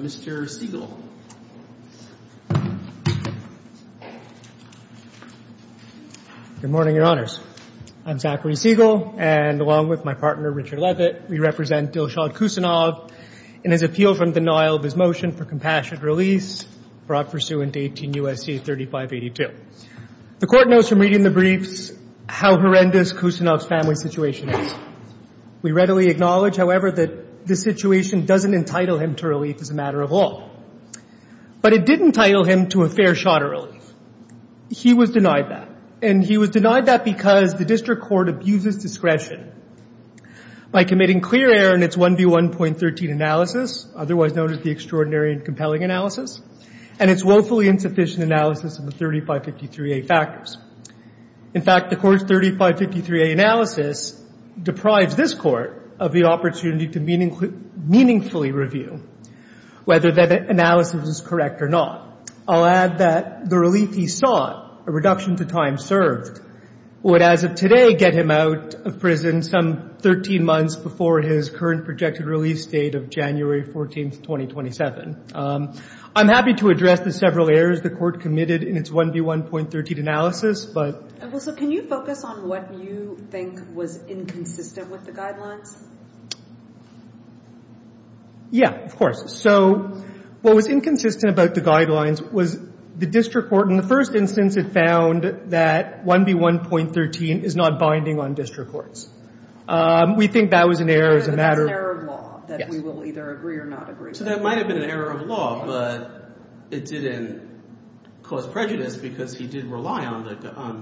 Mr. Siegel Good morning, Your Honors. I'm Zachary Siegel, and along with my partner Richard Levitt, we represent Dilshad Khusanov in his appeal from the Nile of his motion for compassionate release brought pursuant to 18 U.S.C. 3582. The Court knows from reading the briefs how horrendous Khusanov's family situation is. We readily acknowledge, however, that this situation doesn't entitle him to relief as a matter of law. But it did entitle him to a fair shot of relief. He was denied that, and he was denied that because the District Court abuses discretion by committing clear error in its 1 v. 1.13 analysis, otherwise known as the Extraordinary and Compelling Analysis, and its woefully insufficient analysis of the 3553A factors. In fact, the Court's 3553A analysis deprives this Court of the opportunity to meaningfully review whether that analysis is correct or not. I'll add that the relief he sought, a reduction to time served, would as of today get him some 13 months before his current projected release date of January 14th, 2027. I'm happy to address the several errors the Court committed in its 1 v. 1.13 analysis, but — And also, can you focus on what you think was inconsistent with the guidelines? Yeah, of course. So what was inconsistent about the guidelines was the District Court. In that instance, it found that 1 v. 1.13 is not binding on District Courts. We think that was an error as a matter of law that we will either agree or not agree to. So that might have been an error of law, but it didn't cause prejudice because he did rely on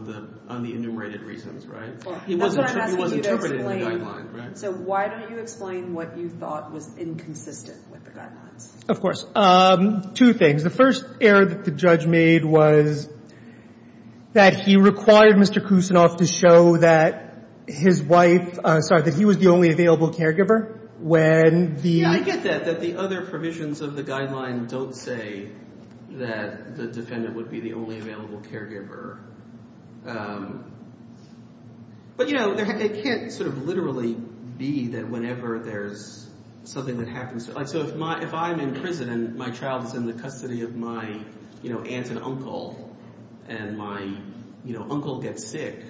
the enumerated reasons, right? He wasn't interpreted in the guidelines, right? So why don't you explain what you thought was inconsistent with the guidelines? Of course. Two things. The first error that the judge made was that he required Mr. Kucinoff to show that his wife — sorry, that he was the only available caregiver when the — Yeah, I get that, that the other provisions of the guideline don't say that the defendant would be the only available caregiver. But, you know, it can't sort of literally be that whenever there's something that happens — so if I'm in prison and my child is in the custody of my aunt and uncle and my uncle gets sick,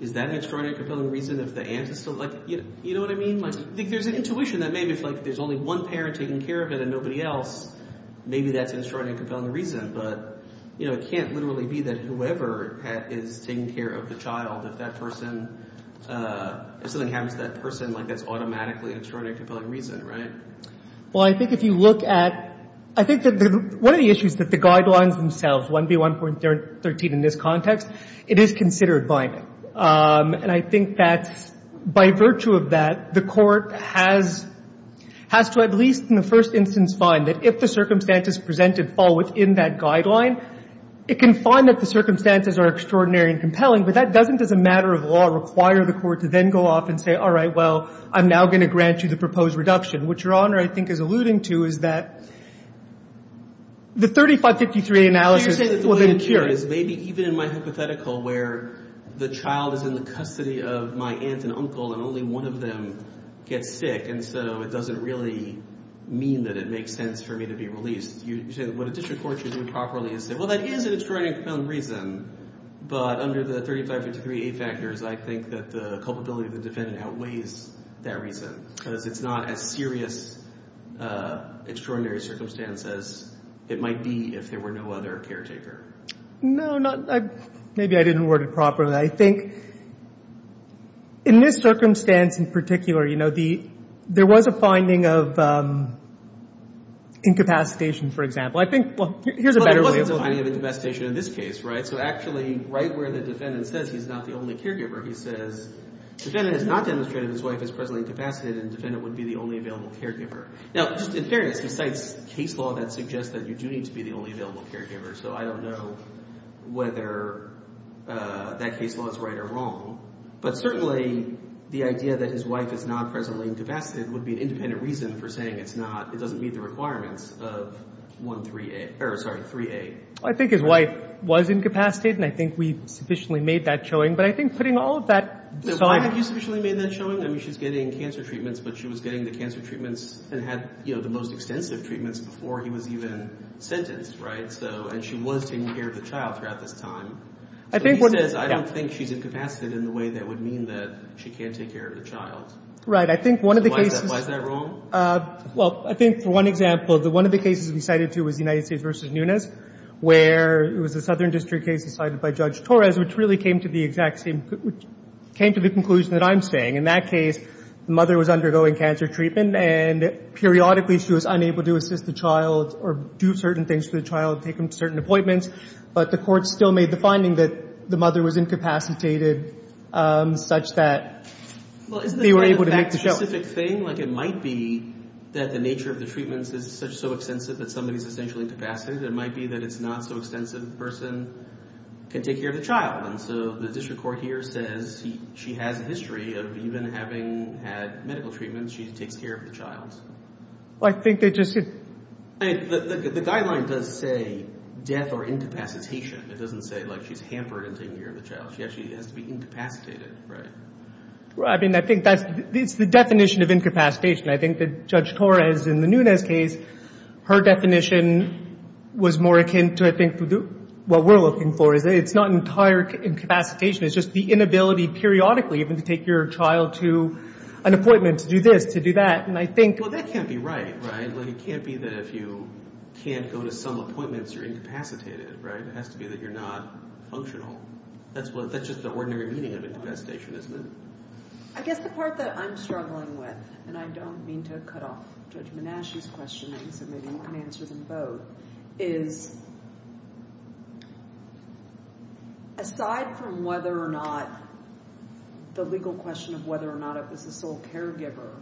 is that an extraordinary and compelling reason if the aunt is still — you know what I mean? There's an intuition that maybe if there's only one parent taking care of it and nobody else, maybe that's an extraordinary and compelling reason. But it can't literally be that whoever is taking care of the child, if that person — if something happens to that person, like, that's automatically an extraordinary and compelling reason, right? Well, I think if you look at — I think that one of the issues that the guidelines themselves, 1B1.13 in this context, it is considered binding. And I think that by virtue of that, the court has to at least in the first instance find that if the circumstances presented fall within that guideline, it can find that the circumstances are extraordinary and compelling. But that doesn't, as a matter of law, require the court to then go off and say, all right, well, I'm now going to grant you the proposed reduction. What Your Honor, I think, is alluding to is that the 3553 analysis will then cure — So you're saying that the way it cures is maybe even in my hypothetical where the child is in the custody of my aunt and uncle and only one of them gets sick, and so it doesn't really mean that it makes sense for me to be released. You say that what a district court should do properly is say, well, that is an extraordinary and compelling reason, but under the 3553A factors, I think that the culpability of the defendant outweighs that reason, because it's not as serious an extraordinary circumstance as it might be if there were no other caretaker. No, not — maybe I didn't word it properly. I think in this circumstance in particular, you know, the — there was a finding of incapacitation, for example. I think — well, here's a better way of — Well, there wasn't a finding of incapacitation in this case, right? So actually, right where the defendant says he's not the only caregiver, he says, defendant has not demonstrated his wife is presently incapacitated, and defendant would be the only available caregiver. Now, just in fairness, he cites case law that suggests that you do need to be the only available caregiver, so I don't know whether that case law is right or wrong. But certainly, the idea that his wife is not presently incapacitated would be an independent reason for saying it's not — it doesn't meet the requirements of 138 — or, sorry, 3A. I think his wife was incapacitated, and I think we sufficiently made that showing. But I think putting all of that — Why do you think you sufficiently made that showing? I mean, she's getting cancer treatments, but she was getting the cancer treatments and had, you know, the most extensive treatments before he was even sentenced, right? So — and she was taking care of the child throughout this time. I think — I don't think she's incapacitated in the way that would mean that she can't take care of the child. Right. I think one of the cases — Why is that wrong? Well, I think, for one example, that one of the cases we cited, too, was United States v. Nunes, where it was a Southern District case cited by Judge Torres, which really came to the exact same — which came to the conclusion that I'm saying. In that case, the mother was undergoing cancer treatment, and periodically, she was unable to assist the child or do certain things for the child, take him to certain appointments. But the court still made the finding that the mother was incapacitated such that they were able to make the show. Well, isn't that a fact-specific thing? Like, it might be that the nature of the treatments is such — so extensive that somebody is essentially incapacitated. It might be that it's not so extensive that the person can take care of the child. And so the district court here says she has a history of even having had medical treatments, she takes care of the child. Well, I think they just — The guideline does say death or incapacitation. It doesn't say, like, she's hampered in taking care of the child. She actually has to be incapacitated, right? I mean, I think that's — it's the definition of incapacitation. I think that Judge Torres in the Nunes case, her definition was more akin to, I think, what we're looking for, is that it's not entire incapacitation. It's just the inability periodically even to take your child to an appointment, to do this, to do that. And I think — I mean, if you can't go to some appointments, you're incapacitated, right? It has to be that you're not functional. That's just the ordinary meaning of incapacitation, isn't it? I guess the part that I'm struggling with — and I don't mean to cut off Judge Manasci's questioning, so maybe you can answer them both — is, aside from whether or not — the legal question of whether or not it was the sole caregiver,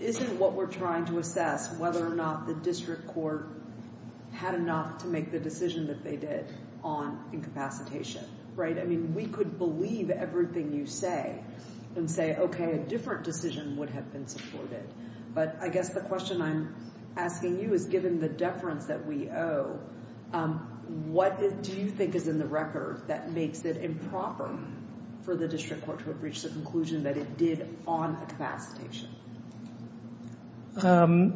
isn't what we're trying to assess whether or not the district court had enough to make the decision that they did on incapacitation, right? I mean, we could believe everything you say and say, OK, a different decision would have been supported. But I guess the question I'm asking you is, given the deference that we owe, what do you think is in the record that makes it improper for the district court to have reached the conclusion that it did on incapacitation? The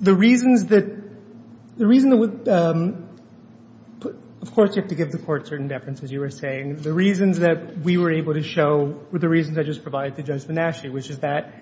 reasons that — the reason that — of course, you have to give the court certain deference, as you were saying. The reasons that we were able to show were the reasons I just provided to Judge Manasci, which is that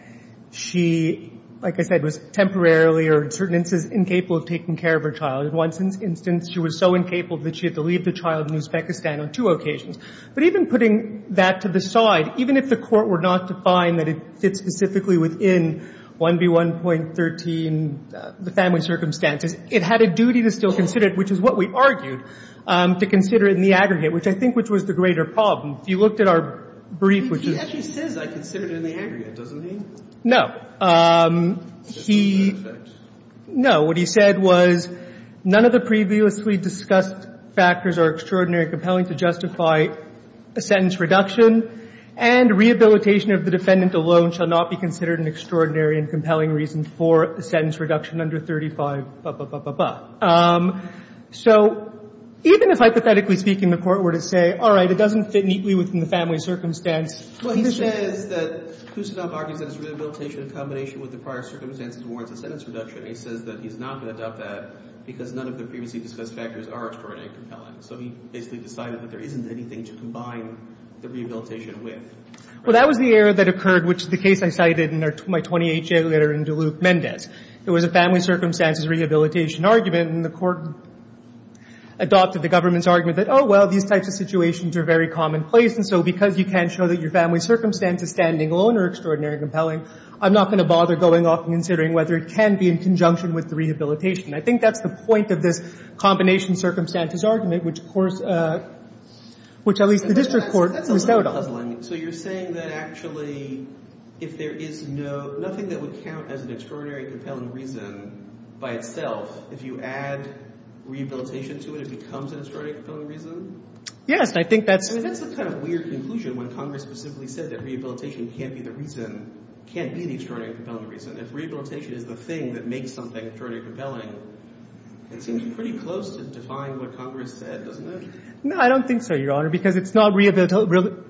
she, like I said, was temporarily or in certain instances incapable of taking care of her child. In one instance, she was so incapable that she had to leave the child in Uzbekistan on two occasions. But even putting that to the side, even if the court were not to find that it fits specifically within 1B1.13, the family circumstances, it had a duty to still consider it, which is what we argued, to consider it in the aggregate, which I think was the greater problem. If you looked at our brief, which is — He actually says, I consider it in the aggregate, doesn't he? No. He — That's not a fact. No. What he said was, none of the previously discussed factors are extraordinary and compelling to justify a sentence reduction. And rehabilitation of the defendant alone shall not be considered an extraordinary and compelling reason for a sentence reduction under 35, blah, blah, blah, blah, blah. So even if, hypothetically speaking, the court were to say, all right, it doesn't fit neatly within the family circumstance — Well, he says that Khusinov argues that his rehabilitation in combination with the prior circumstances warrants a sentence reduction. He says that he's not going to doubt that because none of the previously discussed factors are extraordinary and compelling. So he basically decided that there isn't anything to combine the rehabilitation with. Well, that was the error that occurred, which is the case I cited in my 28-year letter in Duluth-Mendez. It was a family circumstances rehabilitation argument, and the court adopted the government's argument that, oh, well, these types of situations are very commonplace, and so because you can't show that your family circumstances standing alone are extraordinary and compelling, I'm not going to bother going off and considering whether it can be in conjunction with the rehabilitation. I think that's the point of this combination circumstances argument, which, of course, which at least the district court was doubt on. But that's a little puzzling. So you're saying that actually if there is no — nothing that would count as an extraordinary and compelling reason by itself, if you add rehabilitation to it, it becomes an extraordinary and compelling reason? Yes. And I think that's — That's a kind of weird conclusion when Congress specifically said that rehabilitation can't be the reason — can't be the extraordinary and compelling reason. If rehabilitation is the thing that makes something extraordinary and compelling, it seems pretty close to defying what Congress said, doesn't it? No, I don't think so, Your Honor, because it's not —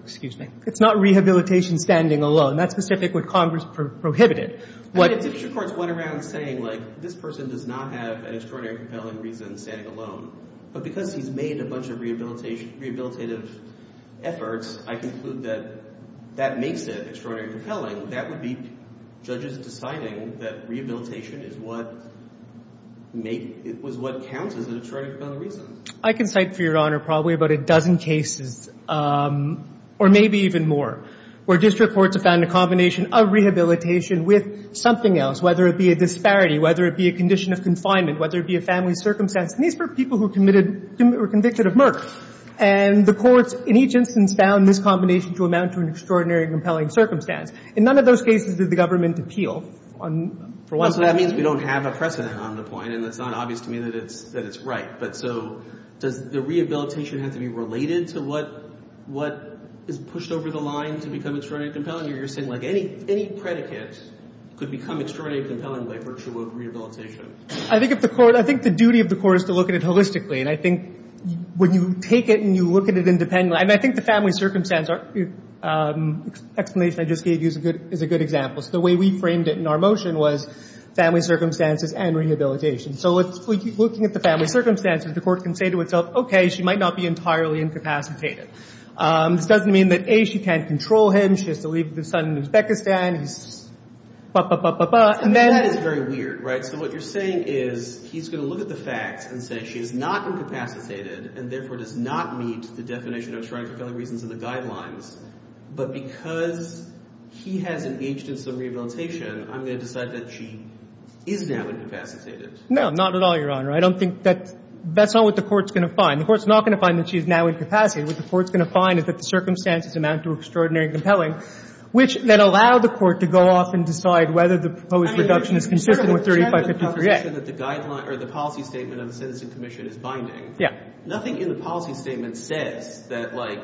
excuse me — it's not rehabilitation standing alone. That's specific what Congress prohibited. And district courts went around saying, like, this person does not have an extraordinary and compelling reason standing alone. But because he's made a bunch of rehabilitative efforts, I conclude that that makes it extraordinary and compelling. That would be judges deciding that rehabilitation is what make — was what counts as an extraordinary and compelling reason. I can cite, for Your Honor, probably about a dozen cases, or maybe even more, where district courts have found a combination of rehabilitation with something else, whether it be a disparity, whether it be a condition of confinement, whether it be a family circumstance. And these were people who committed — were convicted of murder. And the courts, in each instance, found this combination to amount to an extraordinary and compelling circumstance. In none of those cases did the government appeal on — Well, so that means we don't have a precedent on the point. And it's not obvious to me that it's — that it's right. But so does the rehabilitation have to be related to what — what is pushed over the line to become extraordinary and compelling? You're saying, like, any — any predicate could become extraordinary and compelling by virtue of rehabilitation. I think if the court — I think the duty of the court is to look at it holistically. And I think when you take it and you look at it independently — and I think the family circumstance are — explanation I just gave you is a good — is a good example. So the way we framed it in our motion was family circumstances and rehabilitation. So let's — looking at the family circumstances, the court can say to itself, okay, she might not be entirely incapacitated. This doesn't mean that, A, she can't control him. She has to leave the son in Uzbekistan. He's ba-ba-ba-ba-ba. And then — That is very weird, right? So what you're saying is he's going to look at the facts and say she is not incapacitated and, therefore, does not meet the definition of extraordinary compelling reasons in the guidelines. But because he has engaged in some rehabilitation, I'm going to decide that she is now incapacitated. No, not at all, Your Honor. I don't think that — that's not what the court's going to find. The court's not going to find that she is now incapacitated. What the court's going to find is that the circumstances amount to extraordinary and compelling, which then allow the court to go off and decide whether the proposed reduction is consistent with 3553-A. But the policy statement of the Citizen Commission is binding. Yeah. Nothing in the policy statement says that, like,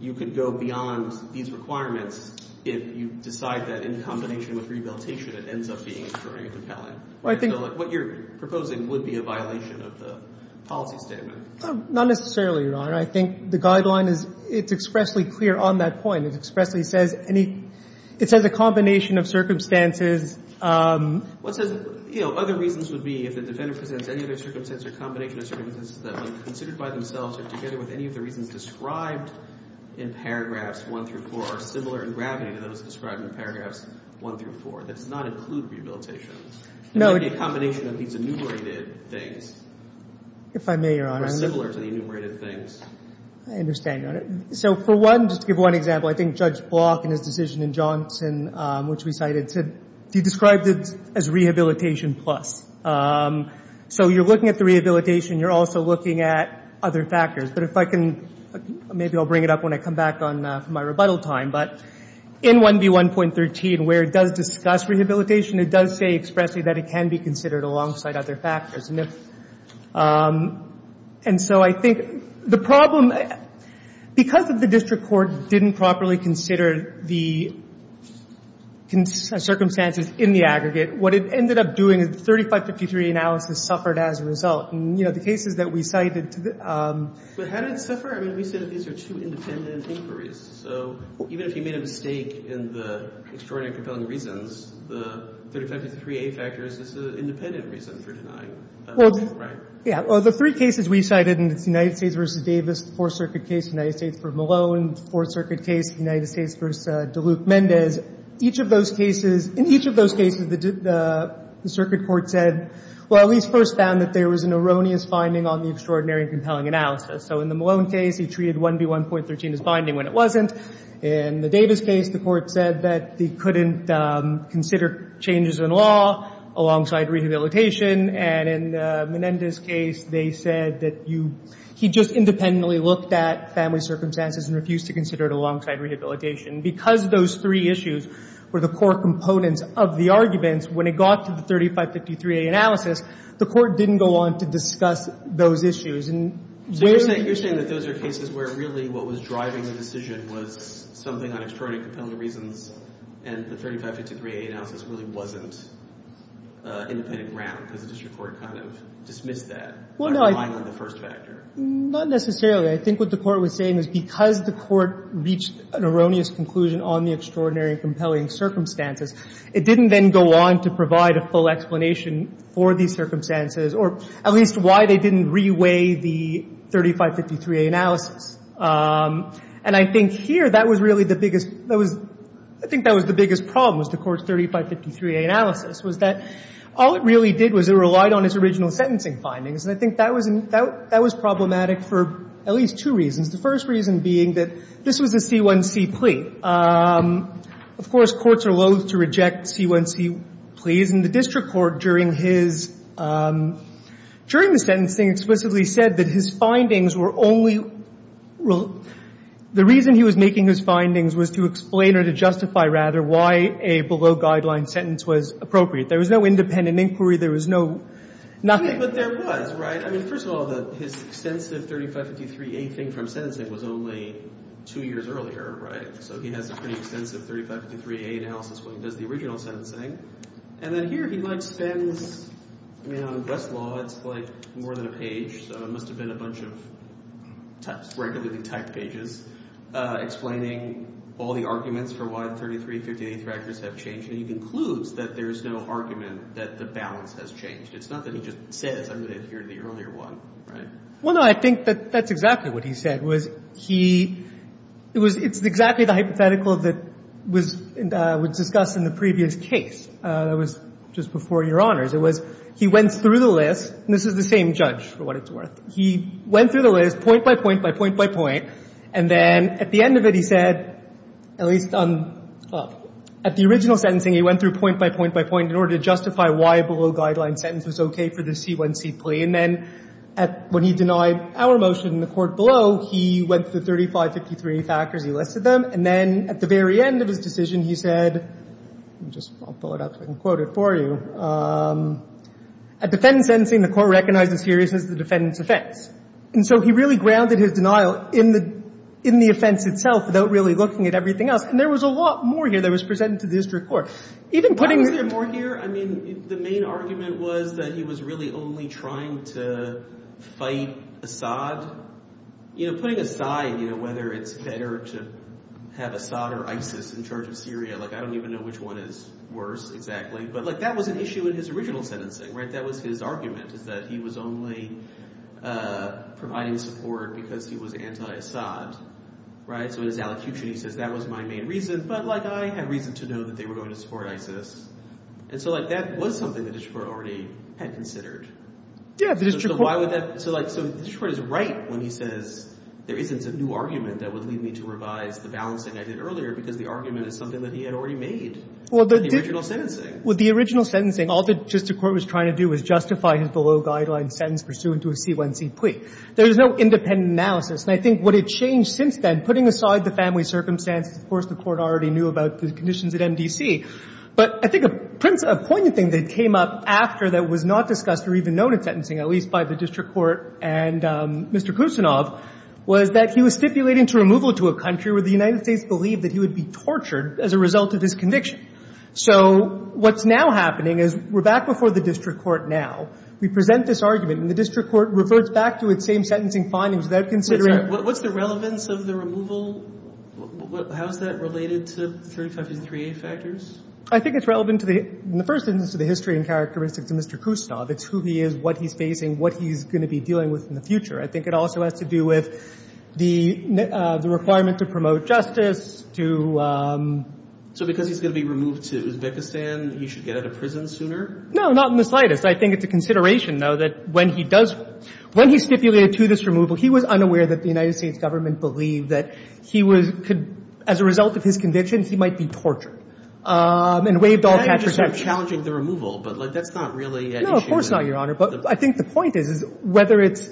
you could go beyond these requirements if you decide that, in combination with rehabilitation, it ends up being extraordinary compelling. I think — So, like, what you're proposing would be a violation of the policy statement. Not necessarily, Your Honor. I think the guideline is — it's expressly clear on that point. It expressly says any — it says a combination of circumstances. What says — you know, other reasons would be if the defendant presents any other circumstance or combination of circumstances that, when considered by themselves or together with any of the reasons described in paragraphs 1 through 4, are similar in gravity to those described in paragraphs 1 through 4. That does not include rehabilitation. No. It would be a combination of these enumerated things. If I may, Your Honor — Or similar to the enumerated things. I understand, Your Honor. So, for one — just to give one example, I think Judge Block in his decision in Johnson, which we cited, said — he described it as rehabilitation plus. So you're looking at the rehabilitation. You're also looking at other factors. But if I can — maybe I'll bring it up when I come back on my rebuttal time. But in 1B1.13, where it does discuss rehabilitation, it does say expressly that it can be considered alongside other factors. And if — and so I think the problem — because the district court didn't properly consider the circumstances in the aggregate, what it ended up doing is the 3553A analysis suffered as a result. And, you know, the cases that we cited — But how did it suffer? I mean, we said that these are two independent inquiries. So even if you made a mistake in the extraordinary and compelling reasons, the 3553A factor is just an independent reason for denying, right? Well, yeah. Well, the three cases we cited, and it's the United States v. Davis, the Fourth Circuit case, the United States v. Malone, the Fourth Circuit case, the United States v. DeLuke-Mendez, each of those cases — in each of those cases, the circuit court said — well, at least first found that there was an erroneous finding on the extraordinary and compelling analysis. So in the Malone case, he treated 1B1.13 as binding when it wasn't. In the Davis case, the court said that he couldn't consider changes in law alongside rehabilitation. And in Menendez's case, they said that you — he just independently looked at family circumstances and refused to consider it alongside rehabilitation. Because those three issues were the core components of the arguments, when it got to the 3553A analysis, the court didn't go on to discuss those issues. And where — I mean, the court didn't go on to discuss something on extraordinary and compelling reasons, and the 3553A analysis really wasn't independent ground, because the district court kind of dismissed that by relying on the first factor. Not necessarily. I think what the court was saying is because the court reached an erroneous conclusion on the extraordinary and compelling circumstances, it didn't then go on to provide a full explanation for these circumstances, or at least why they didn't reweigh the 3553A analysis. And I think here, that was really the biggest — that was — I think that was the biggest problem, was the Court's 3553A analysis, was that all it really did was it relied on its original sentencing findings. And I think that was problematic for at least two reasons, the first reason being that this was a C1C plea. Of course, courts are loathe to reject C1C pleas, and the district court during his — during the sentencing explicitly said that his findings were only — the reason he was making his findings was to explain or to justify, rather, why a below-guideline sentence was appropriate. There was no independent inquiry. There was no — nothing. But there was, right? I mean, first of all, his extensive 3553A thing from sentencing was only two years earlier, right? So he has a pretty extensive 3553A analysis when he does the original sentencing. And then here, he, like, spends — I mean, on the best law, it's, like, more than a page, so it must have been a bunch of regularly-typed pages explaining all the arguments for why the 3353A factors have changed. And he concludes that there is no argument that the balance has changed. It's not that he just says, I'm going to adhere to the earlier one, right? Well, no, I think that that's exactly what he said, was he — it was — it's exactly the hypothetical that was — was discussed in the previous case that was just before Your Honors. It was — he went through the list — and this is the same judge, for what it's worth. He went through the list, point by point by point by point. And then at the end of it, he said, at least on — well, at the original sentencing, he went through point by point by point in order to justify why a below-guideline sentence was okay for the C1C plea. And then at — when he denied our motion in the court below, he went through 3553A factors, he listed them. And then at the very end of his decision, he said — I'll just — I'll pull it up so I can quote it for you. At defendant's sentencing, the court recognized the seriousness of the defendant's And so he really grounded his denial in the — in the offense itself without really looking at everything else. And there was a lot more here that was presented to the district court. Even putting — Why was there more here? I mean, the main argument was that he was really only trying to fight Assad. You know, putting aside, you know, whether it's better to have Assad or ISIS in charge of Syria, like, I don't even know which one is worse exactly. But, like, that was an issue in his original sentencing, right? That was his argument, is that he was only providing support because he was anti-Assad. Right? So in his allocution, he says, that was my main reason. But, like, I had reason to know that they were going to support ISIS. And so, like, that was something the district court already had considered. Yeah, the district court — So why would that — so, like, so the district court is right when he says, there isn't a new argument that would lead me to revise the balancing I did earlier because the argument is something that he had already made in the original sentencing. Well, the original sentencing, all the district court was trying to do was justify his below-guideline sentence pursuant to a C1C plea. There was no independent analysis. And I think what had changed since then, putting aside the family circumstances, of course, the court already knew about the conditions at MDC. But I think a poignant thing that came up after that was not discussed or even known in the current sentencing, at least by the district court and Mr. Kusinov, was that he was stipulating to removal to a country where the United States believed that he would be tortured as a result of his conviction. So what's now happening is we're back before the district court now. We present this argument, and the district court reverts back to its same sentencing findings without considering — What's the relevance of the removal? How is that related to the 3553a factors? I think it's relevant to the — in the first instance, to the history and characteristics of Mr. Kusinov. It's who he is, what he's facing, what he's going to be dealing with in the future. I think it also has to do with the — the requirement to promote justice, to — So because he's going to be removed to Uzbekistan, he should get out of prison sooner? No, not in the slightest. I think it's a consideration, though, that when he does — when he stipulated to this removal, he was unaware that the United States government believed that he was — could — as a result of his conviction, he might be tortured. And waived all — I'm challenging the removal, but, like, that's not really an issue. No, of course not, Your Honor. But I think the point is, is whether it's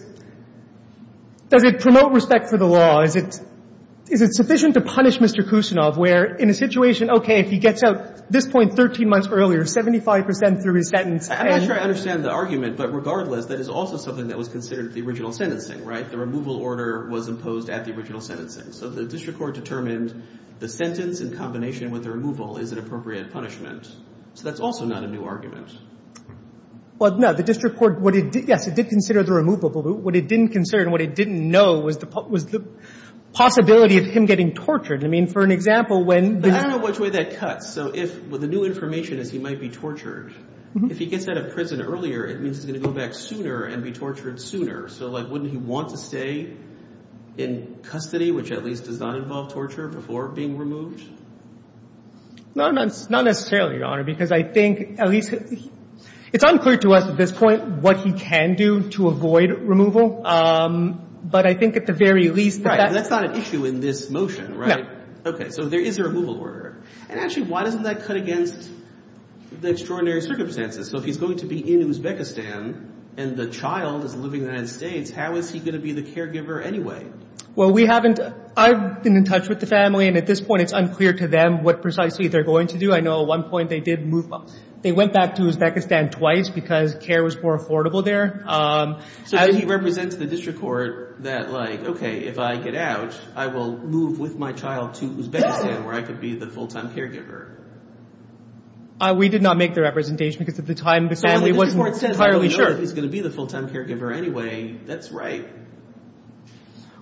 — does it promote respect for the law? Is it — is it sufficient to punish Mr. Kusinov where, in a situation, okay, if he gets out this point 13 months earlier, 75 percent through his sentence — I'm not sure I understand the argument, but regardless, that is also something that was considered the original sentencing, right? The removal order was imposed at the original sentencing. So the district court determined the sentence in combination with the removal is an appropriate punishment. So that's also not a new argument. Well, no, the district court — what it — yes, it did consider the removal, but what it didn't consider and what it didn't know was the possibility of him getting tortured. I mean, for an example, when — But I don't know which way that cuts. So if — well, the new information is he might be tortured. If he gets out of prison earlier, it means he's going to go back sooner and be tortured sooner. So, like, wouldn't he want to stay in custody, which at least does not involve torture, before being removed? No, not necessarily, Your Honor, because I think at least — it's unclear to us at this point what he can do to avoid removal. But I think at the very least — Right. And that's not an issue in this motion, right? No. Okay. So there is a removal order. And actually, why doesn't that cut against the extraordinary circumstances? So if he's going to be in Uzbekistan and the child is living in the United States, how is he going to be the caregiver anyway? Well, we haven't — I've been in touch with the family. And at this point, it's unclear to them what precisely they're going to do. I know at one point they did move — they went back to Uzbekistan twice because care was more affordable there. So does he represent to the district court that, like, okay, if I get out, I will move with my child to Uzbekistan, where I could be the full-time caregiver? We did not make the representation because at the time, the family wasn't entirely sure. But if he's going to be the full-time caregiver anyway, that's right.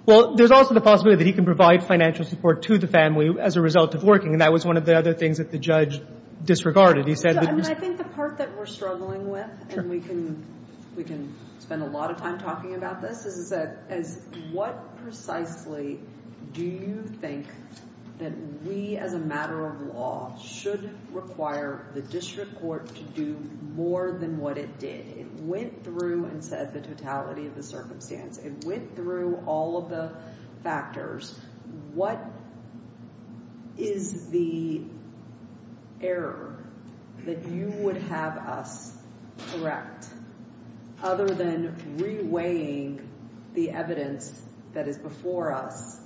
Well, there's also the possibility that he can provide financial support to the family as a result of working, and that was one of the other things that the judge disregarded. He said — I think the part that we're struggling with, and we can spend a lot of time talking about this, is what precisely do you think that we, as a matter of law, should require the district court to do more than what it did? It went through and said the totality of the circumstance. It went through all of the factors. What is the error that you would have us correct, other than reweighing the evidence that is before us,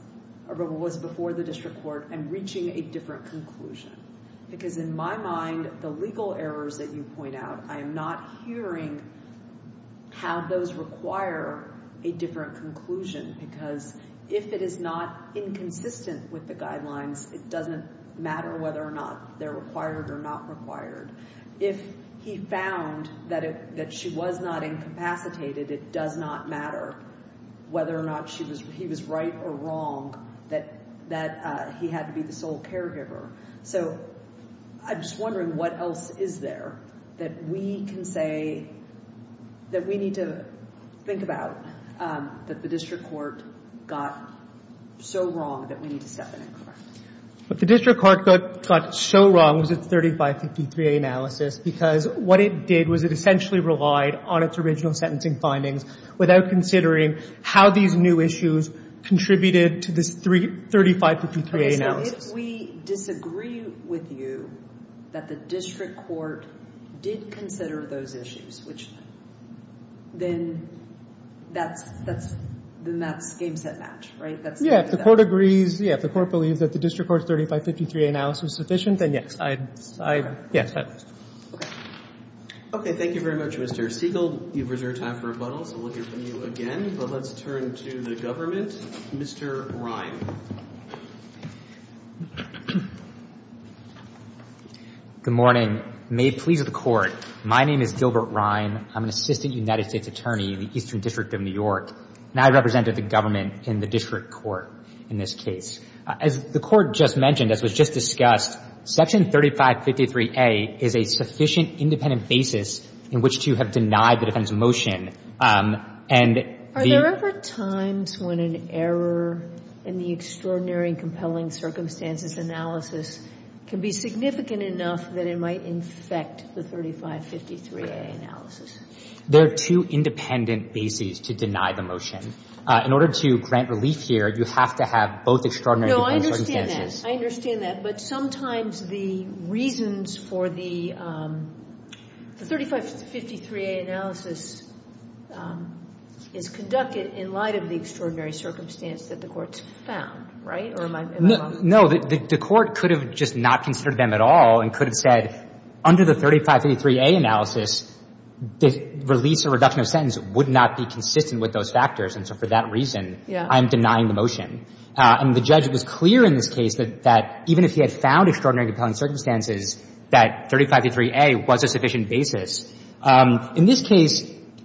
or what was before the district court, and reaching a different conclusion? Because in my mind, the legal errors that you point out, I am not hearing how those require a different conclusion, because if it is not inconsistent with the guidelines, it doesn't matter whether or not they're required or not required. If he found that she was not incapacitated, it does not matter whether or not he was right or wrong, that he had to be the sole caregiver. So I'm just wondering, what else is there that we can say that we need to think about that the district court got so wrong that we need to step in and correct? What the district court got so wrong was its 3553A analysis, because what it did was it essentially relied on its original sentencing findings without considering how these new issues contributed to this 3553A analysis. If we disagree with you that the district court did consider those issues, then that's game set match, right? Yeah, if the court agrees, if the court believes that the district court's 3553A analysis is sufficient, then yes. Okay, thank you very much, Mr. Siegel. You've reserved time for rebuttals. We'll hear from you again, but let's turn to the government. Mr. Rhyne. Good morning. May it please the Court, my name is Gilbert Rhyne. I'm an assistant United States attorney in the Eastern District of New York. And I represented the government in the district court in this case. As the Court just mentioned, as was just discussed, Section 3553A is a sufficient independent basis in which to have denied the defendant's motion. Are there ever times when an error in the Extraordinary and Compelling Circumstances analysis can be significant enough that it might infect the 3553A analysis? There are two independent bases to deny the motion. In order to grant relief here, you have to have both Extraordinary and Compelling No, I understand that. But sometimes the reasons for the 3553A analysis is conducted in light of the Extraordinary Circumstance that the Court's found, right? Or am I wrong? No, the Court could have just not considered them at all and could have said under the 3553A analysis, the release or reduction of sentence would not be consistent with those factors. And so for that reason, I'm denying the motion. And the judge was clear in this case that even if he had found Extraordinary and Compelling Circumstances, that 3553A was a sufficient basis. In this case,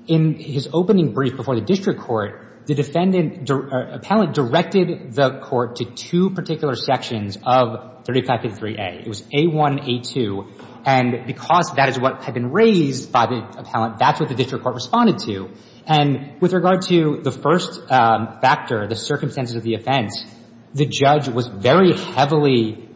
in his opening brief before the district court, the defendant appellant directed the court to two particular sections of 3553A. It was A1, A2. And because that is what had been raised by the appellant, that's what the district court responded to. And with regard to the first factor, the circumstances of the offense, the judge was very heavily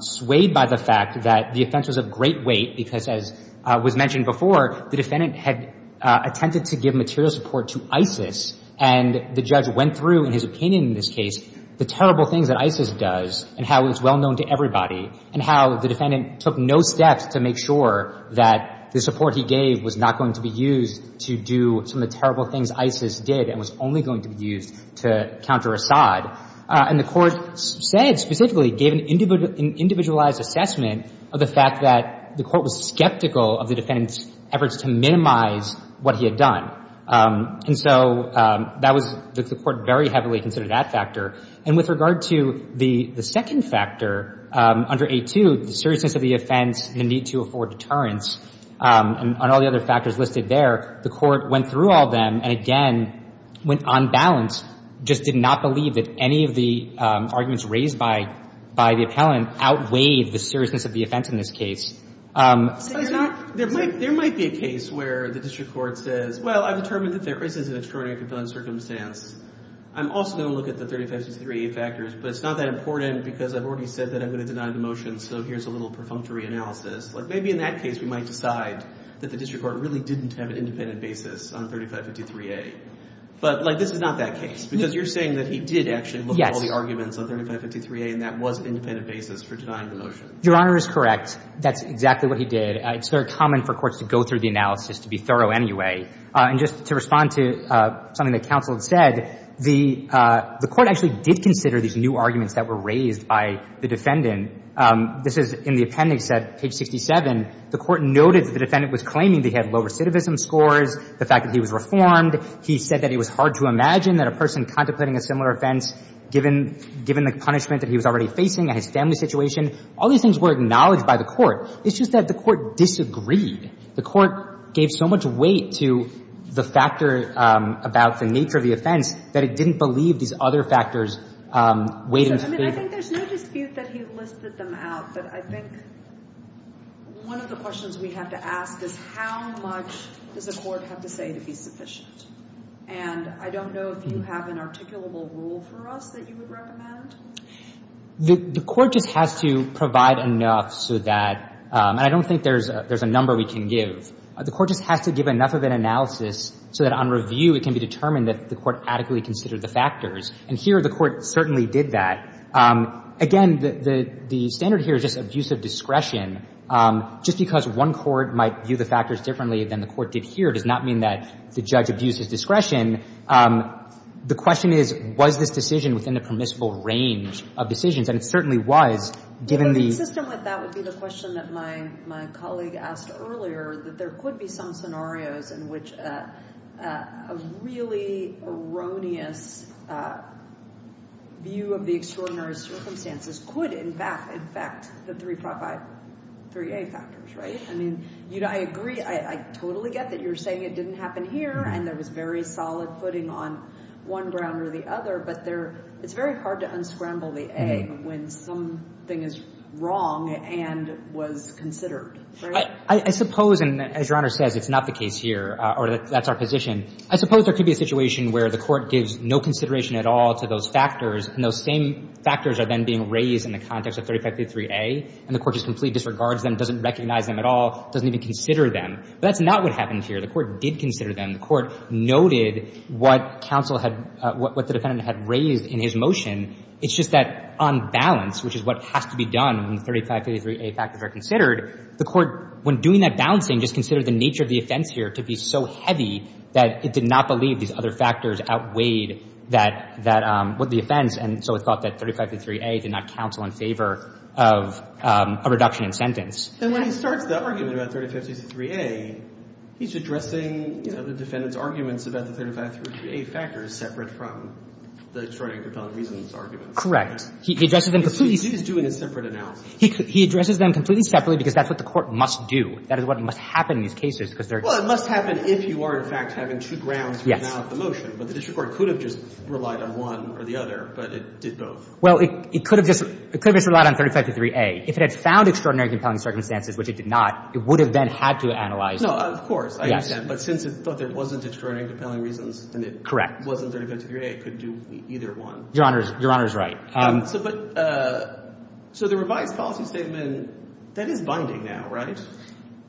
swayed by the fact that the offense was of great weight because, as was mentioned before, the defendant had attempted to give material support to ISIS. And the judge went through, in his opinion in this case, the terrible things that ISIS does and how it's well known to everybody and how the defendant took no steps to make sure that the support he gave was not going to be used to do some of the terrible things ISIS did and was only going to be used to counter Assad. And the court said specifically, gave an individualized assessment of the fact that the court was skeptical of the defendant's efforts to minimize what he had done. And so that was the court very heavily considered that factor. And with regard to the second factor under A2, the seriousness of the offense, the need to afford deterrence, and all the other factors listed there, the court went through all of them and, again, went unbalanced, just did not believe that any of the arguments raised by the appellant outweighed the seriousness of the offense in this case. So there's not – There might be a case where the district court says, well, I've determined that there is an extraordinary compelling circumstance. I'm also going to look at the 3563 factors, but it's not that important because I've already said that I'm going to deny the motion, so here's a little perfunctory analysis. Like, maybe in that case we might decide that the district court really didn't have an independent basis on 3553A. But, like, this is not that case because you're saying that he did actually look at all the arguments on 3553A and that was an independent basis for denying the motion. Your Honor is correct. That's exactly what he did. It's very common for courts to go through the analysis to be thorough anyway. And just to respond to something that counsel had said, the court actually did consider these new arguments that were raised by the defendant. This is in the appendix at page 67. The court noted that the defendant was claiming that he had low recidivism scores, the fact that he was reformed. He said that it was hard to imagine that a person contemplating a similar offense, given the punishment that he was already facing and his family situation, all these things were acknowledged by the court. It's just that the court disagreed. The court gave so much weight to the factor about the nature of the offense that it didn't believe these other factors weighed in. I think there's no dispute that he listed them out, but I think one of the questions we have to ask is how much does the court have to say to be sufficient? And I don't know if you have an articulable rule for us that you would recommend. The court just has to provide enough so that – and I don't think there's a number we can give. The court just has to give enough of an analysis so that on review it can be determined that the court adequately considered the factors. And here the court certainly did that. Again, the standard here is just abuse of discretion. Just because one court might view the factors differently than the court did here does not mean that the judge abused his discretion. The question is, was this decision within the permissible range of decisions? And it certainly was, given the – But consistent with that would be the question that my colleague asked earlier, that there could be some scenarios in which a really erroneous view of the extraordinary circumstances could in fact affect the 3A factors, right? I mean, I agree. I totally get that you're saying it didn't happen here and there was very solid footing on one ground or the other, but it's very hard to unscramble the A when something is wrong and was considered, right? I suppose, and as Your Honor says, it's not the case here, or that's our position, I suppose there could be a situation where the court gives no consideration at all to those factors, and those same factors are then being raised in the context of 3553A, and the court just completely disregards them, doesn't recognize them at all, doesn't even consider them. But that's not what happened here. The court did consider them. The court noted what counsel had – what the defendant had raised in his motion. It's just that on balance, which is what has to be done when 3553A factors are considered, the court, when doing that balancing, just considered the nature of the offense here to be so heavy that it did not believe these other factors outweighed that – what the offense, and so it's thought that 3553A did not counsel in favor of a reduction in sentence. And when he starts the argument about 3553A, he's addressing, you know, the defendant's arguments about the 3553A factors separate from the extraordinary compelling reasons arguments. Correct. He addresses them completely separate. He's doing a separate analysis. He addresses them completely separately because that's what the court must do. That is what must happen in these cases, because they're – Well, it must happen if you are, in fact, having two grounds to renounce the motion. But the district court could have just relied on one or the other, but it did both. Well, it could have just – it could have just relied on 3553A. If it had found extraordinary compelling circumstances, which it did not, it would have then had to analyze – No, of course. Yes. But since it thought there wasn't extraordinary compelling reasons – Correct. And it wasn't 3553A, it could do either one. Your Honor is – your Honor is right. So, but – so the revised policy statement, that is binding now, right?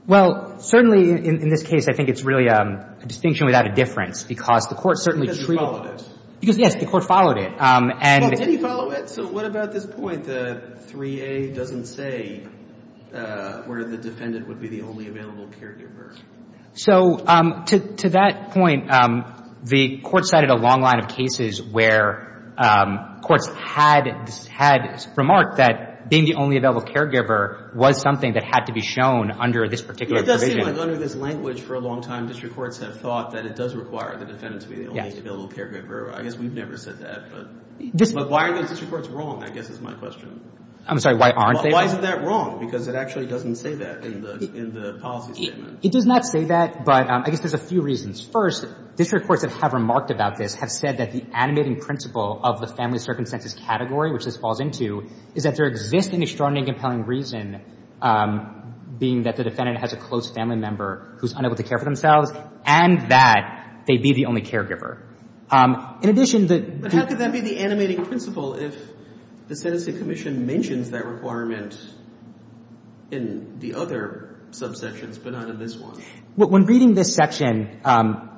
Well, certainly in this case, I think it's really a distinction without a difference because the court certainly – Because you followed it. Because, yes, the court followed it. And – Well, did he follow it? So what about this point that 3A doesn't say where the defendant would be the only available caregiver? So to that point, the court cited a long line of cases where courts had – had remarked that being the only available caregiver was something that had to be shown under this particular provision. It does seem like under this language for a long time, district courts have thought that it does require the defendant to be the only available caregiver. I guess we've never said that. But why are those district courts wrong, I guess is my question. I'm sorry. Why aren't they wrong? Why is that wrong? Because it actually doesn't say that in the policy statement. It does not say that, but I guess there's a few reasons. First, district courts that have remarked about this have said that the animating principle of the family circumstances category, which this falls into, is that there exists an extraordinarily compelling reason being that the defendant has a close family member who's unable to care for themselves and that they be the only caregiver. In addition, the – But how could that be the animating principle if the sentencing commission mentions that requirement in the other subsections but not in this one? When reading this section,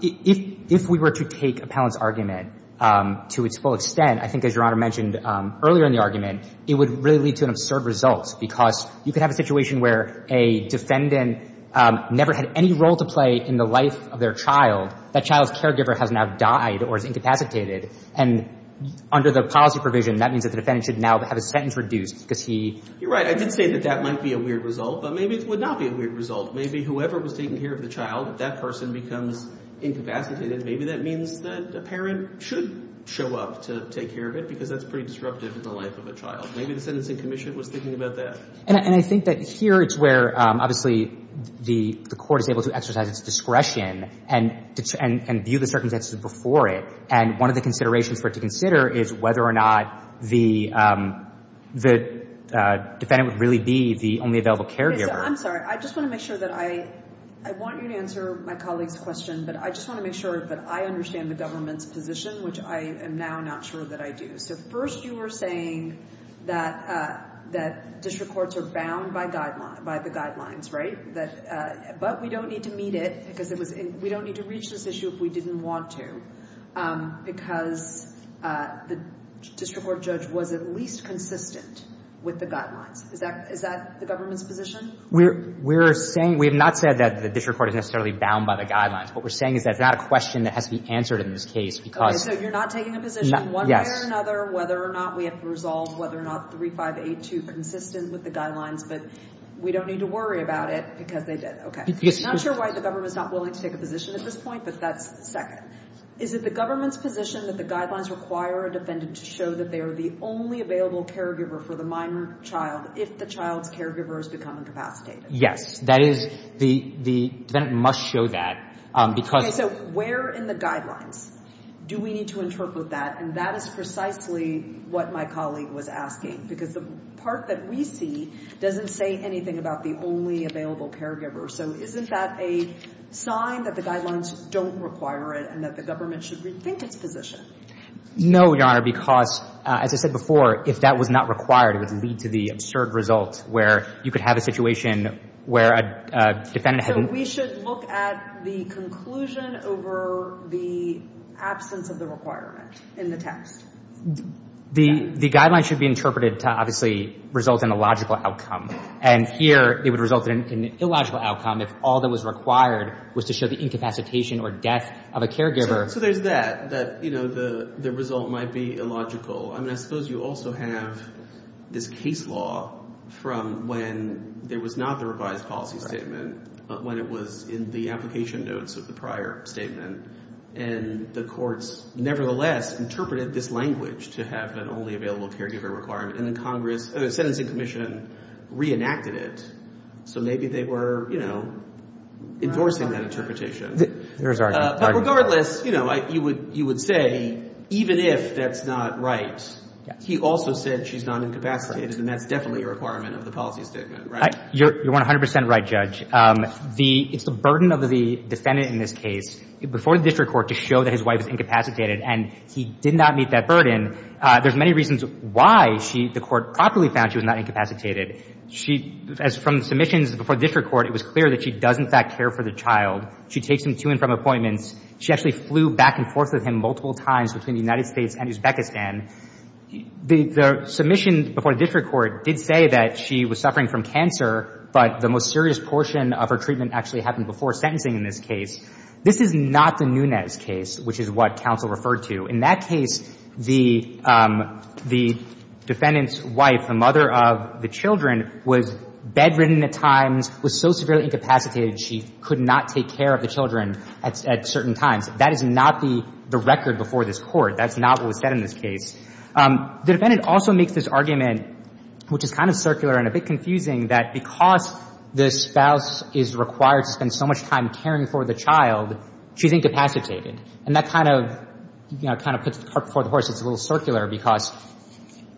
if we were to take Appellant's argument to its full extent, I think as Your Honor mentioned earlier in the argument, it would really lead to an absurd result because you could have a situation where a defendant never had any role to play in the life of their child. That child's caregiver has now died or is incapacitated. And under the policy provision, that means that the defendant should now have a sentence reduced because he – You're right. I did say that that might be a weird result, but maybe it would not be a weird result. Maybe whoever was taking care of the child, if that person becomes incapacitated, maybe that means that a parent should show up to take care of it because that's pretty disruptive in the life of a child. Maybe the sentencing commission was thinking about that. And I think that here it's where, obviously, the court is able to exercise its discretion and view the circumstances before it. And one of the considerations for it to consider is whether or not the defendant would really be the only available caregiver. I'm sorry. I just want to make sure that I – I want you to answer my colleague's question, but I just want to make sure that I understand the government's position, which I am now not sure that I do. So first you were saying that district courts are bound by the guidelines, right? But we don't need to meet it because it was – we don't need to reach this issue if we didn't want to because the district court judge was at least consistent with the guidelines. Is that the government's position? We're saying – we have not said that the district court is necessarily bound by the guidelines. What we're saying is that it's not a question that has to be answered in this case because – Okay, so you're not taking a position one way or another whether or not we have to resolve whether or not 3582 is consistent with the guidelines, but we don't need to worry about it because they did. Okay. I'm not sure why the government is not willing to take a position at this point, but that's second. Is it the government's position that the guidelines require a defendant to show that they are the only available caregiver for the minor child if the child's caregiver has become incapacitated? Yes. That is – the defendant must show that because – Okay, so where in the guidelines do we need to interpret that? And that is precisely what my colleague was asking because the part that we see doesn't say anything about the only available caregiver. So isn't that a sign that the guidelines don't require it and that the government should rethink its position? No, Your Honor, because as I said before, if that was not required, it would lead to the absurd result where you could have a situation where a defendant had – So we should look at the conclusion over the absence of the requirement in the text? The guidelines should be interpreted to obviously result in a logical outcome. And here it would result in an illogical outcome if all that was required was to show the incapacitation or death of a caregiver. So there's that, that the result might be illogical. I suppose you also have this case law from when there was not the revised policy statement, when it was in the application notes of the prior statement, and the courts nevertheless interpreted this language to have an only available caregiver requirement. And the Congress – the Sentencing Commission reenacted it. So maybe they were, you know, endorsing that interpretation. There's argument. But regardless, you know, you would say even if that's not right, he also said she's not incapacitated, and that's definitely a requirement of the policy statement, right? You're 100 percent right, Judge. It's the burden of the defendant in this case before the district court to show that his wife is incapacitated, and he did not meet that burden. There's many reasons why she – the court properly found she was not incapacitated. She – as from submissions before the district court, it was clear that she does in fact care for the child. She takes him to and from appointments. She actually flew back and forth with him multiple times between the United States and Uzbekistan. The submission before the district court did say that she was suffering from cancer, but the most serious portion of her treatment actually happened before sentencing in this case. This is not the Nunes case, which is what counsel referred to. In that case, the defendant's wife, the mother of the children, was bedridden at times, was so severely incapacitated she could not take care of the children at certain times. That is not the record before this Court. That's not what was said in this case. The defendant also makes this argument, which is kind of circular and a bit confusing, that because the spouse is required to spend so much time caring for the child, she's incapacitated. And that kind of, you know, kind of puts the cart before the horse. It's a little circular because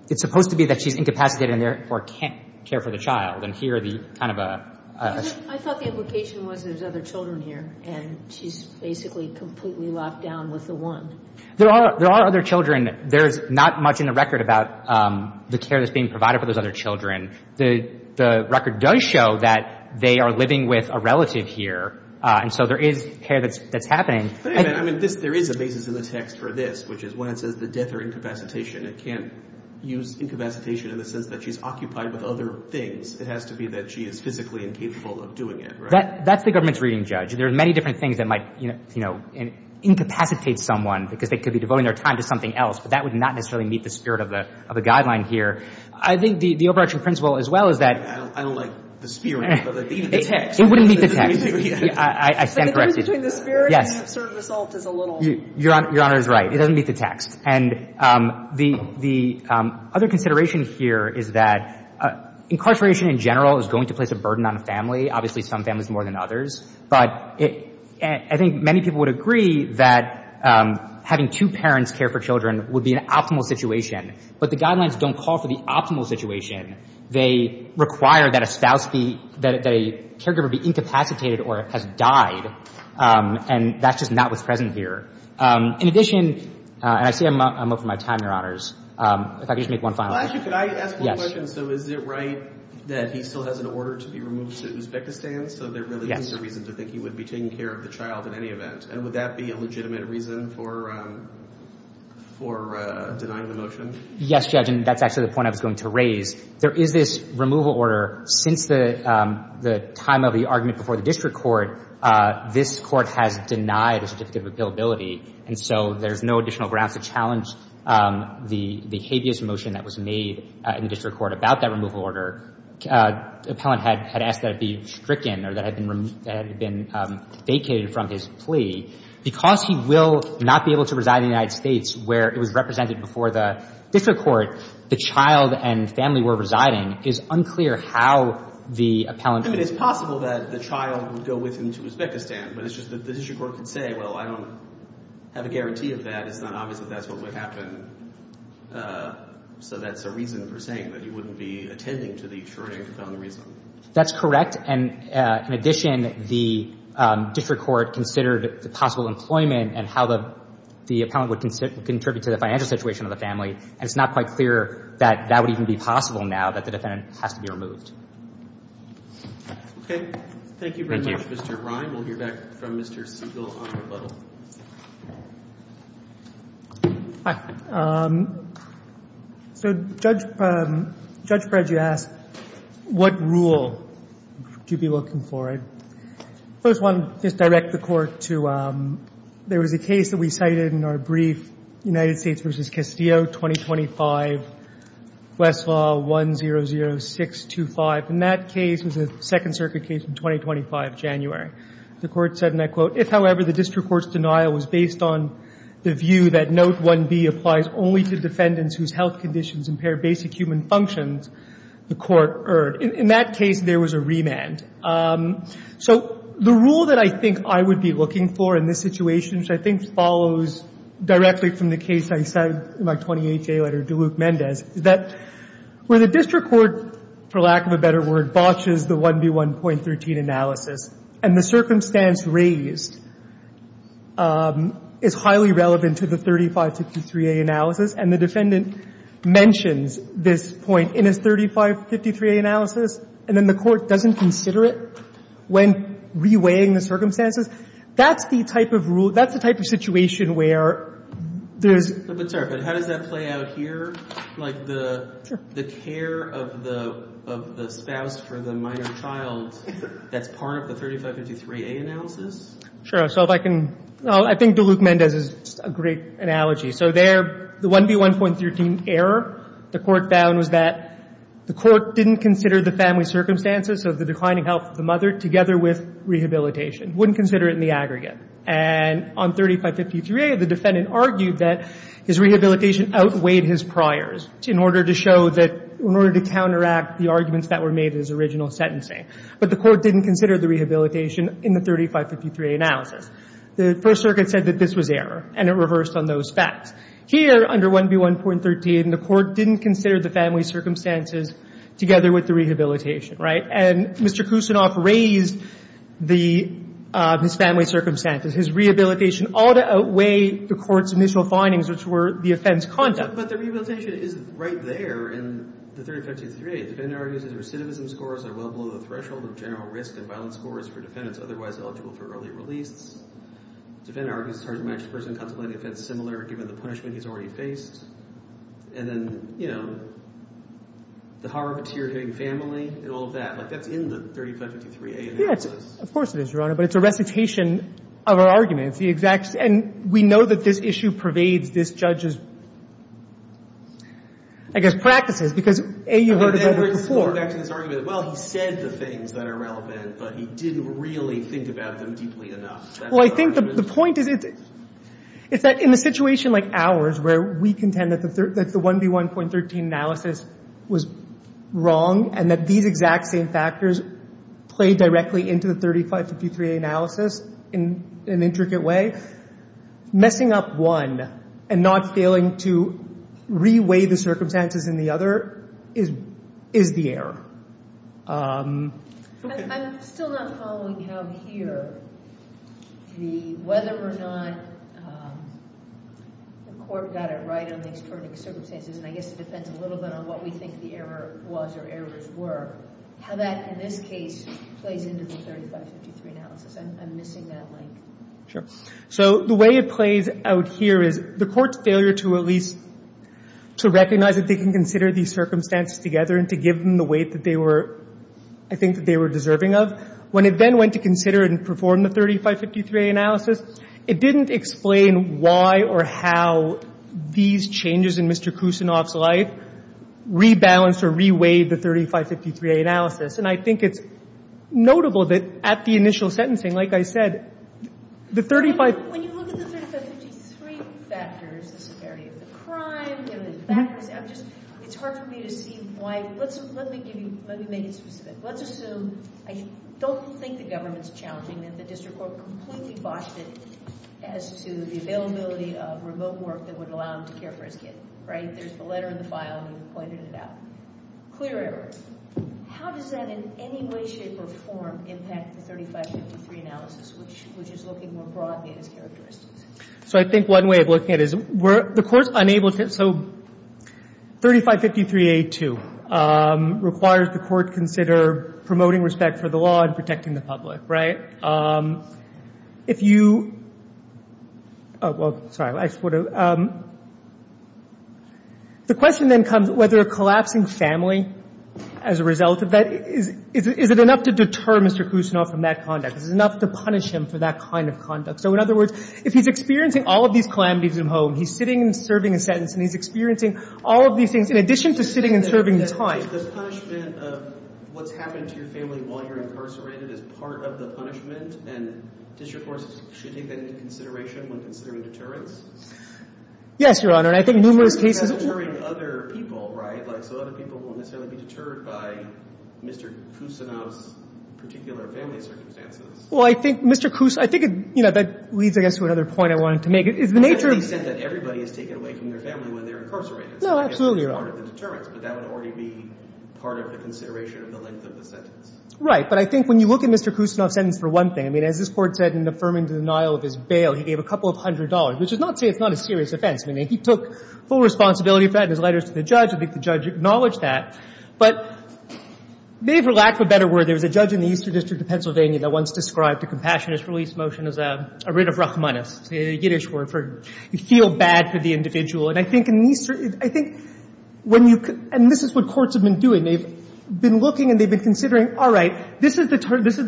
it's supposed to be that she's incapacitated and therefore can't care for the child. And here the kind of a ‑‑ I thought the implication was there's other children here, and she's basically completely locked down with the one. There are other children. There's not much in the record about the care that's being provided for those other children. The record does show that they are living with a relative here, and so there is care that's happening. But, I mean, there is a basis in the text for this, which is when it says the death or incapacitation, it can't use incapacitation in the sense that she's occupied with other things. It has to be that she is physically incapable of doing it, right? That's the government's reading, Judge. There are many different things that might, you know, incapacitate someone because they could be devoting their time to something else, but that would not necessarily meet the spirit of the guideline here. I think the overarching principle as well is that ‑‑ I don't like the spirit, but even the text. It wouldn't meet the text. I stand corrected. The difference between the spirit and the assertive assault is a little. Your Honor is right. It doesn't meet the text. And the other consideration here is that incarceration in general is going to place a burden on a family, obviously some families more than others. But I think many people would agree that having two parents care for children would be an optimal situation, but the guidelines don't call for the optimal situation. They require that a spouse be ‑‑ that a caregiver be incapacitated or has died and that's just not what's present here. In addition, and I see I'm up for my time, Your Honors. If I could just make one final point. Judge, could I ask one question? So is it right that he still has an order to be removed to Uzbekistan? Yes. So there really isn't a reason to think he would be taking care of the child in any event. And would that be a legitimate reason for denying the motion? Yes, Judge, and that's actually the point I was going to raise. There is this removal order. Since the time of the argument before the district court, this court has denied a certificate of appealability, and so there's no additional grounds to challenge the habeas motion that was made in the district court about that removal order. The appellant had asked that it be stricken or that it had been vacated from his plea. Because he will not be able to reside in the United States where it was represented before the district court, the child and family were residing, it's unclear how the appellant could. I mean, it's possible that the child would go with him to Uzbekistan, but it's just that the district court could say, well, I don't have a guarantee of that. It's not obvious that that's what would happen. So that's a reason for saying that he wouldn't be attending to the attorney on the reason. That's correct. And in addition, the district court considered the possible employment and how the appellant would contribute to the financial situation of the family, and it's not quite clear that that would even be possible now that the defendant has to be removed. Thank you very much, Mr. Rhyme. We'll hear back from Mr. Siegel on rebuttal. Hi. So Judge Bredge asked, what rule do you be looking for? I first want to just direct the Court to there was a case that we cited in our brief, United States v. Castillo, 2025, Westlaw 100625. And that case was a Second Circuit case in 2025, January. The Court said, and I quote, if, however, the district court's denial was based on the view that Note 1B applies only to defendants whose health conditions impair basic human functions, the Court erred. In that case, there was a remand. So the rule that I think I would be looking for in this situation, which I think follows directly from the case I cited in my 20HA letter to Luke Mendez, is that where the district court, for lack of a better word, botches the 1B1.13 analysis, and the circumstance raised is highly relevant to the 3553A analysis, and the defendant mentions this point in his 3553A analysis, and then the Court doesn't consider it when reweighing the circumstances, that's the type of rule, that's the type of situation where there's... But, sorry, but how does that play out here? Sure. Like the care of the spouse for the minor child that's part of the 3553A analysis? Sure. So if I can, I think to Luke Mendez is a great analogy. So there, the 1B1.13 error, the Court found was that the Court didn't consider the family circumstances of the declining health of the mother together with rehabilitation. Wouldn't consider it in the aggregate. And on 3553A, the defendant argued that his rehabilitation outweighed his priors in order to show that, in order to counteract the arguments that were made in his original sentencing. But the Court didn't consider the rehabilitation in the 3553A analysis. The First Circuit said that this was error, and it reversed on those facts. Here, under 1B1.13, the Court didn't consider the family circumstances together with the rehabilitation, right? And Mr. Kusinov raised the, his family circumstances. His rehabilitation ought to outweigh the Court's initial findings, which were the offense conduct. But the rehabilitation is right there in the 3553A. Defendant argues that recidivism scores are well below the threshold of general risk and violence scores for defendants otherwise eligible for early release. Defendant argues it's hard to match the person contemplating offense similar given the punishment he's already faced. And then, you know, the horror of a tear-giving family and all of that. Like, that's in the 3553A analysis. Yeah, of course it is, Your Honor. But it's a recitation of our argument. It's the exact same. And we know that this issue pervades this judge's, I guess, practices, because A, you've heard about it before. I've heard this before, back to this argument. Well, he said the things that are relevant, but he didn't really think about them deeply enough. Well, I think the point is, it's that in a situation like ours, where we contend that the 1B1.13 analysis was wrong and that these exact same factors played directly into the 3553A analysis in an intricate way, messing up one and not failing to re-weigh the circumstances in the other is the error. I'm still not following how here the whether or not the court got it right on the external circumstances. And I guess it depends a little bit on what we think the error was or errors were, how that, in this case, plays into the 3553 analysis. I'm missing that link. Sure. So the way it plays out here is the court's failure to at least, to recognize that they can consider these circumstances together and to give them the weight that they were, I think, that they were deserving of, when it then went to consider and perform the 3553A analysis. It didn't explain why or how these changes in Mr. Kusinov's life rebalanced or re-weighed the 3553A analysis. And I think it's notable that at the initial sentencing, like I said, the 35- When you look at the 3553 factors, the severity of the crime, the other factors, I'm just, it's hard for me to see why. Let's, let me give you, let me make it specific. Let's assume, I don't think the government's challenging that the district court completely botched it as to the availability of remote work that would allow him to care for his kid, right? There's the letter in the file and you've pointed it out. Clear errors. How does that in any way, shape, or form impact the 3553 analysis, which is looking more broadly at his characteristics? So I think one way of looking at it is the court's unable to, so 3553A-2 requires the court consider promoting respect for the law and protecting the public, right? If you, oh, well, sorry. The question then comes whether collapsing family as a result of that, is it enough to deter Mr. Kusinov from that conduct? Is it enough to punish him for that kind of conduct? So in other words, if he's experiencing all of these calamities at home, he's sitting and serving a sentence and he's experiencing all of these things in addition to sitting and serving time. If the punishment of what's happened to your family while you're incarcerated is part of the punishment, then district courts should take that into consideration when considering deterrence? Yes, Your Honor. And I think numerous cases of- But you're not deterring other people, right? Like, so other people won't necessarily be deterred by Mr. Kusinov's particular family circumstances. Well, I think Mr. Kusinov, I think, you know, that leads, I guess, to another point I wanted to make. Is the nature of- To the extent that everybody is taken away from their family when they're incarcerated. No, absolutely, Your Honor. That's part of the deterrence, but that would already be part of the consideration of the length of the sentence. Right. But I think when you look at Mr. Kusinov's sentence for one thing, I mean, as this Court said in affirming the denial of his bail, he gave a couple of hundred dollars, which does not say it's not a serious offense. I mean, he took full responsibility for that in his letters to the judge. I think the judge acknowledged that. But maybe for lack of a better word, there was a judge in the Eastern District of Pennsylvania that once described the Compassionist Release Motion as a writ of rachmanus, a Yiddish word for you feel bad for the individual. And I think in these – I think when you – and this is what courts have been doing. They've been looking and they've been considering, all right, this is the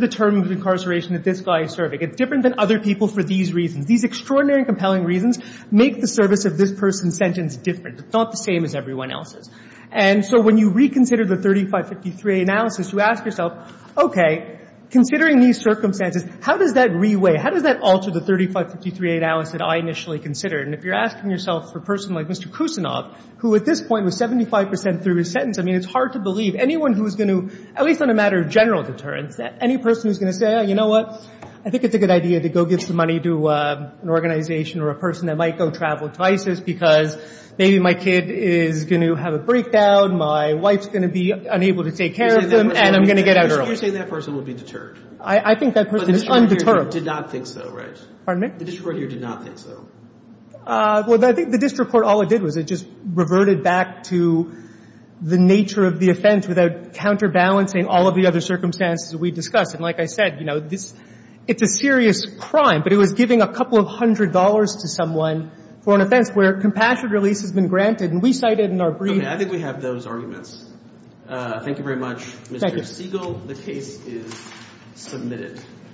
term of incarceration that this guy is serving. It's different than other people for these reasons. These extraordinary and compelling reasons make the service of this person's sentence different. It's not the same as everyone else's. And so when you reconsider the 3553A analysis, you ask yourself, okay, considering these circumstances, how does that reweigh, how does that alter the 3553A analysis that I initially considered? And if you're asking yourself for a person like Mr. Kusinov, who at this point was 75 percent through his sentence, I mean, it's hard to believe anyone who's going to, at least on a matter of general deterrence, any person who's going to say, you know what, I think it's a good idea to go give some money to an organization or a person that might go travel to ISIS because maybe my kid is going to have a breakdown, my wife's going to be unable to take care of them, and I'm going to get out early. You're saying that person would be deterred. I think that person is undeterred. But the district court here did not think so, right? Pardon me? The district court here did not think so. Well, I think the district court, all it did was it just reverted back to the nature of the offense without counterbalancing all of the other circumstances that we discussed. And like I said, you know, it's a serious crime, but it was giving a couple of hundred dollars to someone for an offense where compassionate release has been granted, and we cited in our brief. Okay. I think we have those arguments. Thank you very much, Mr. Siegel. The case is submitted.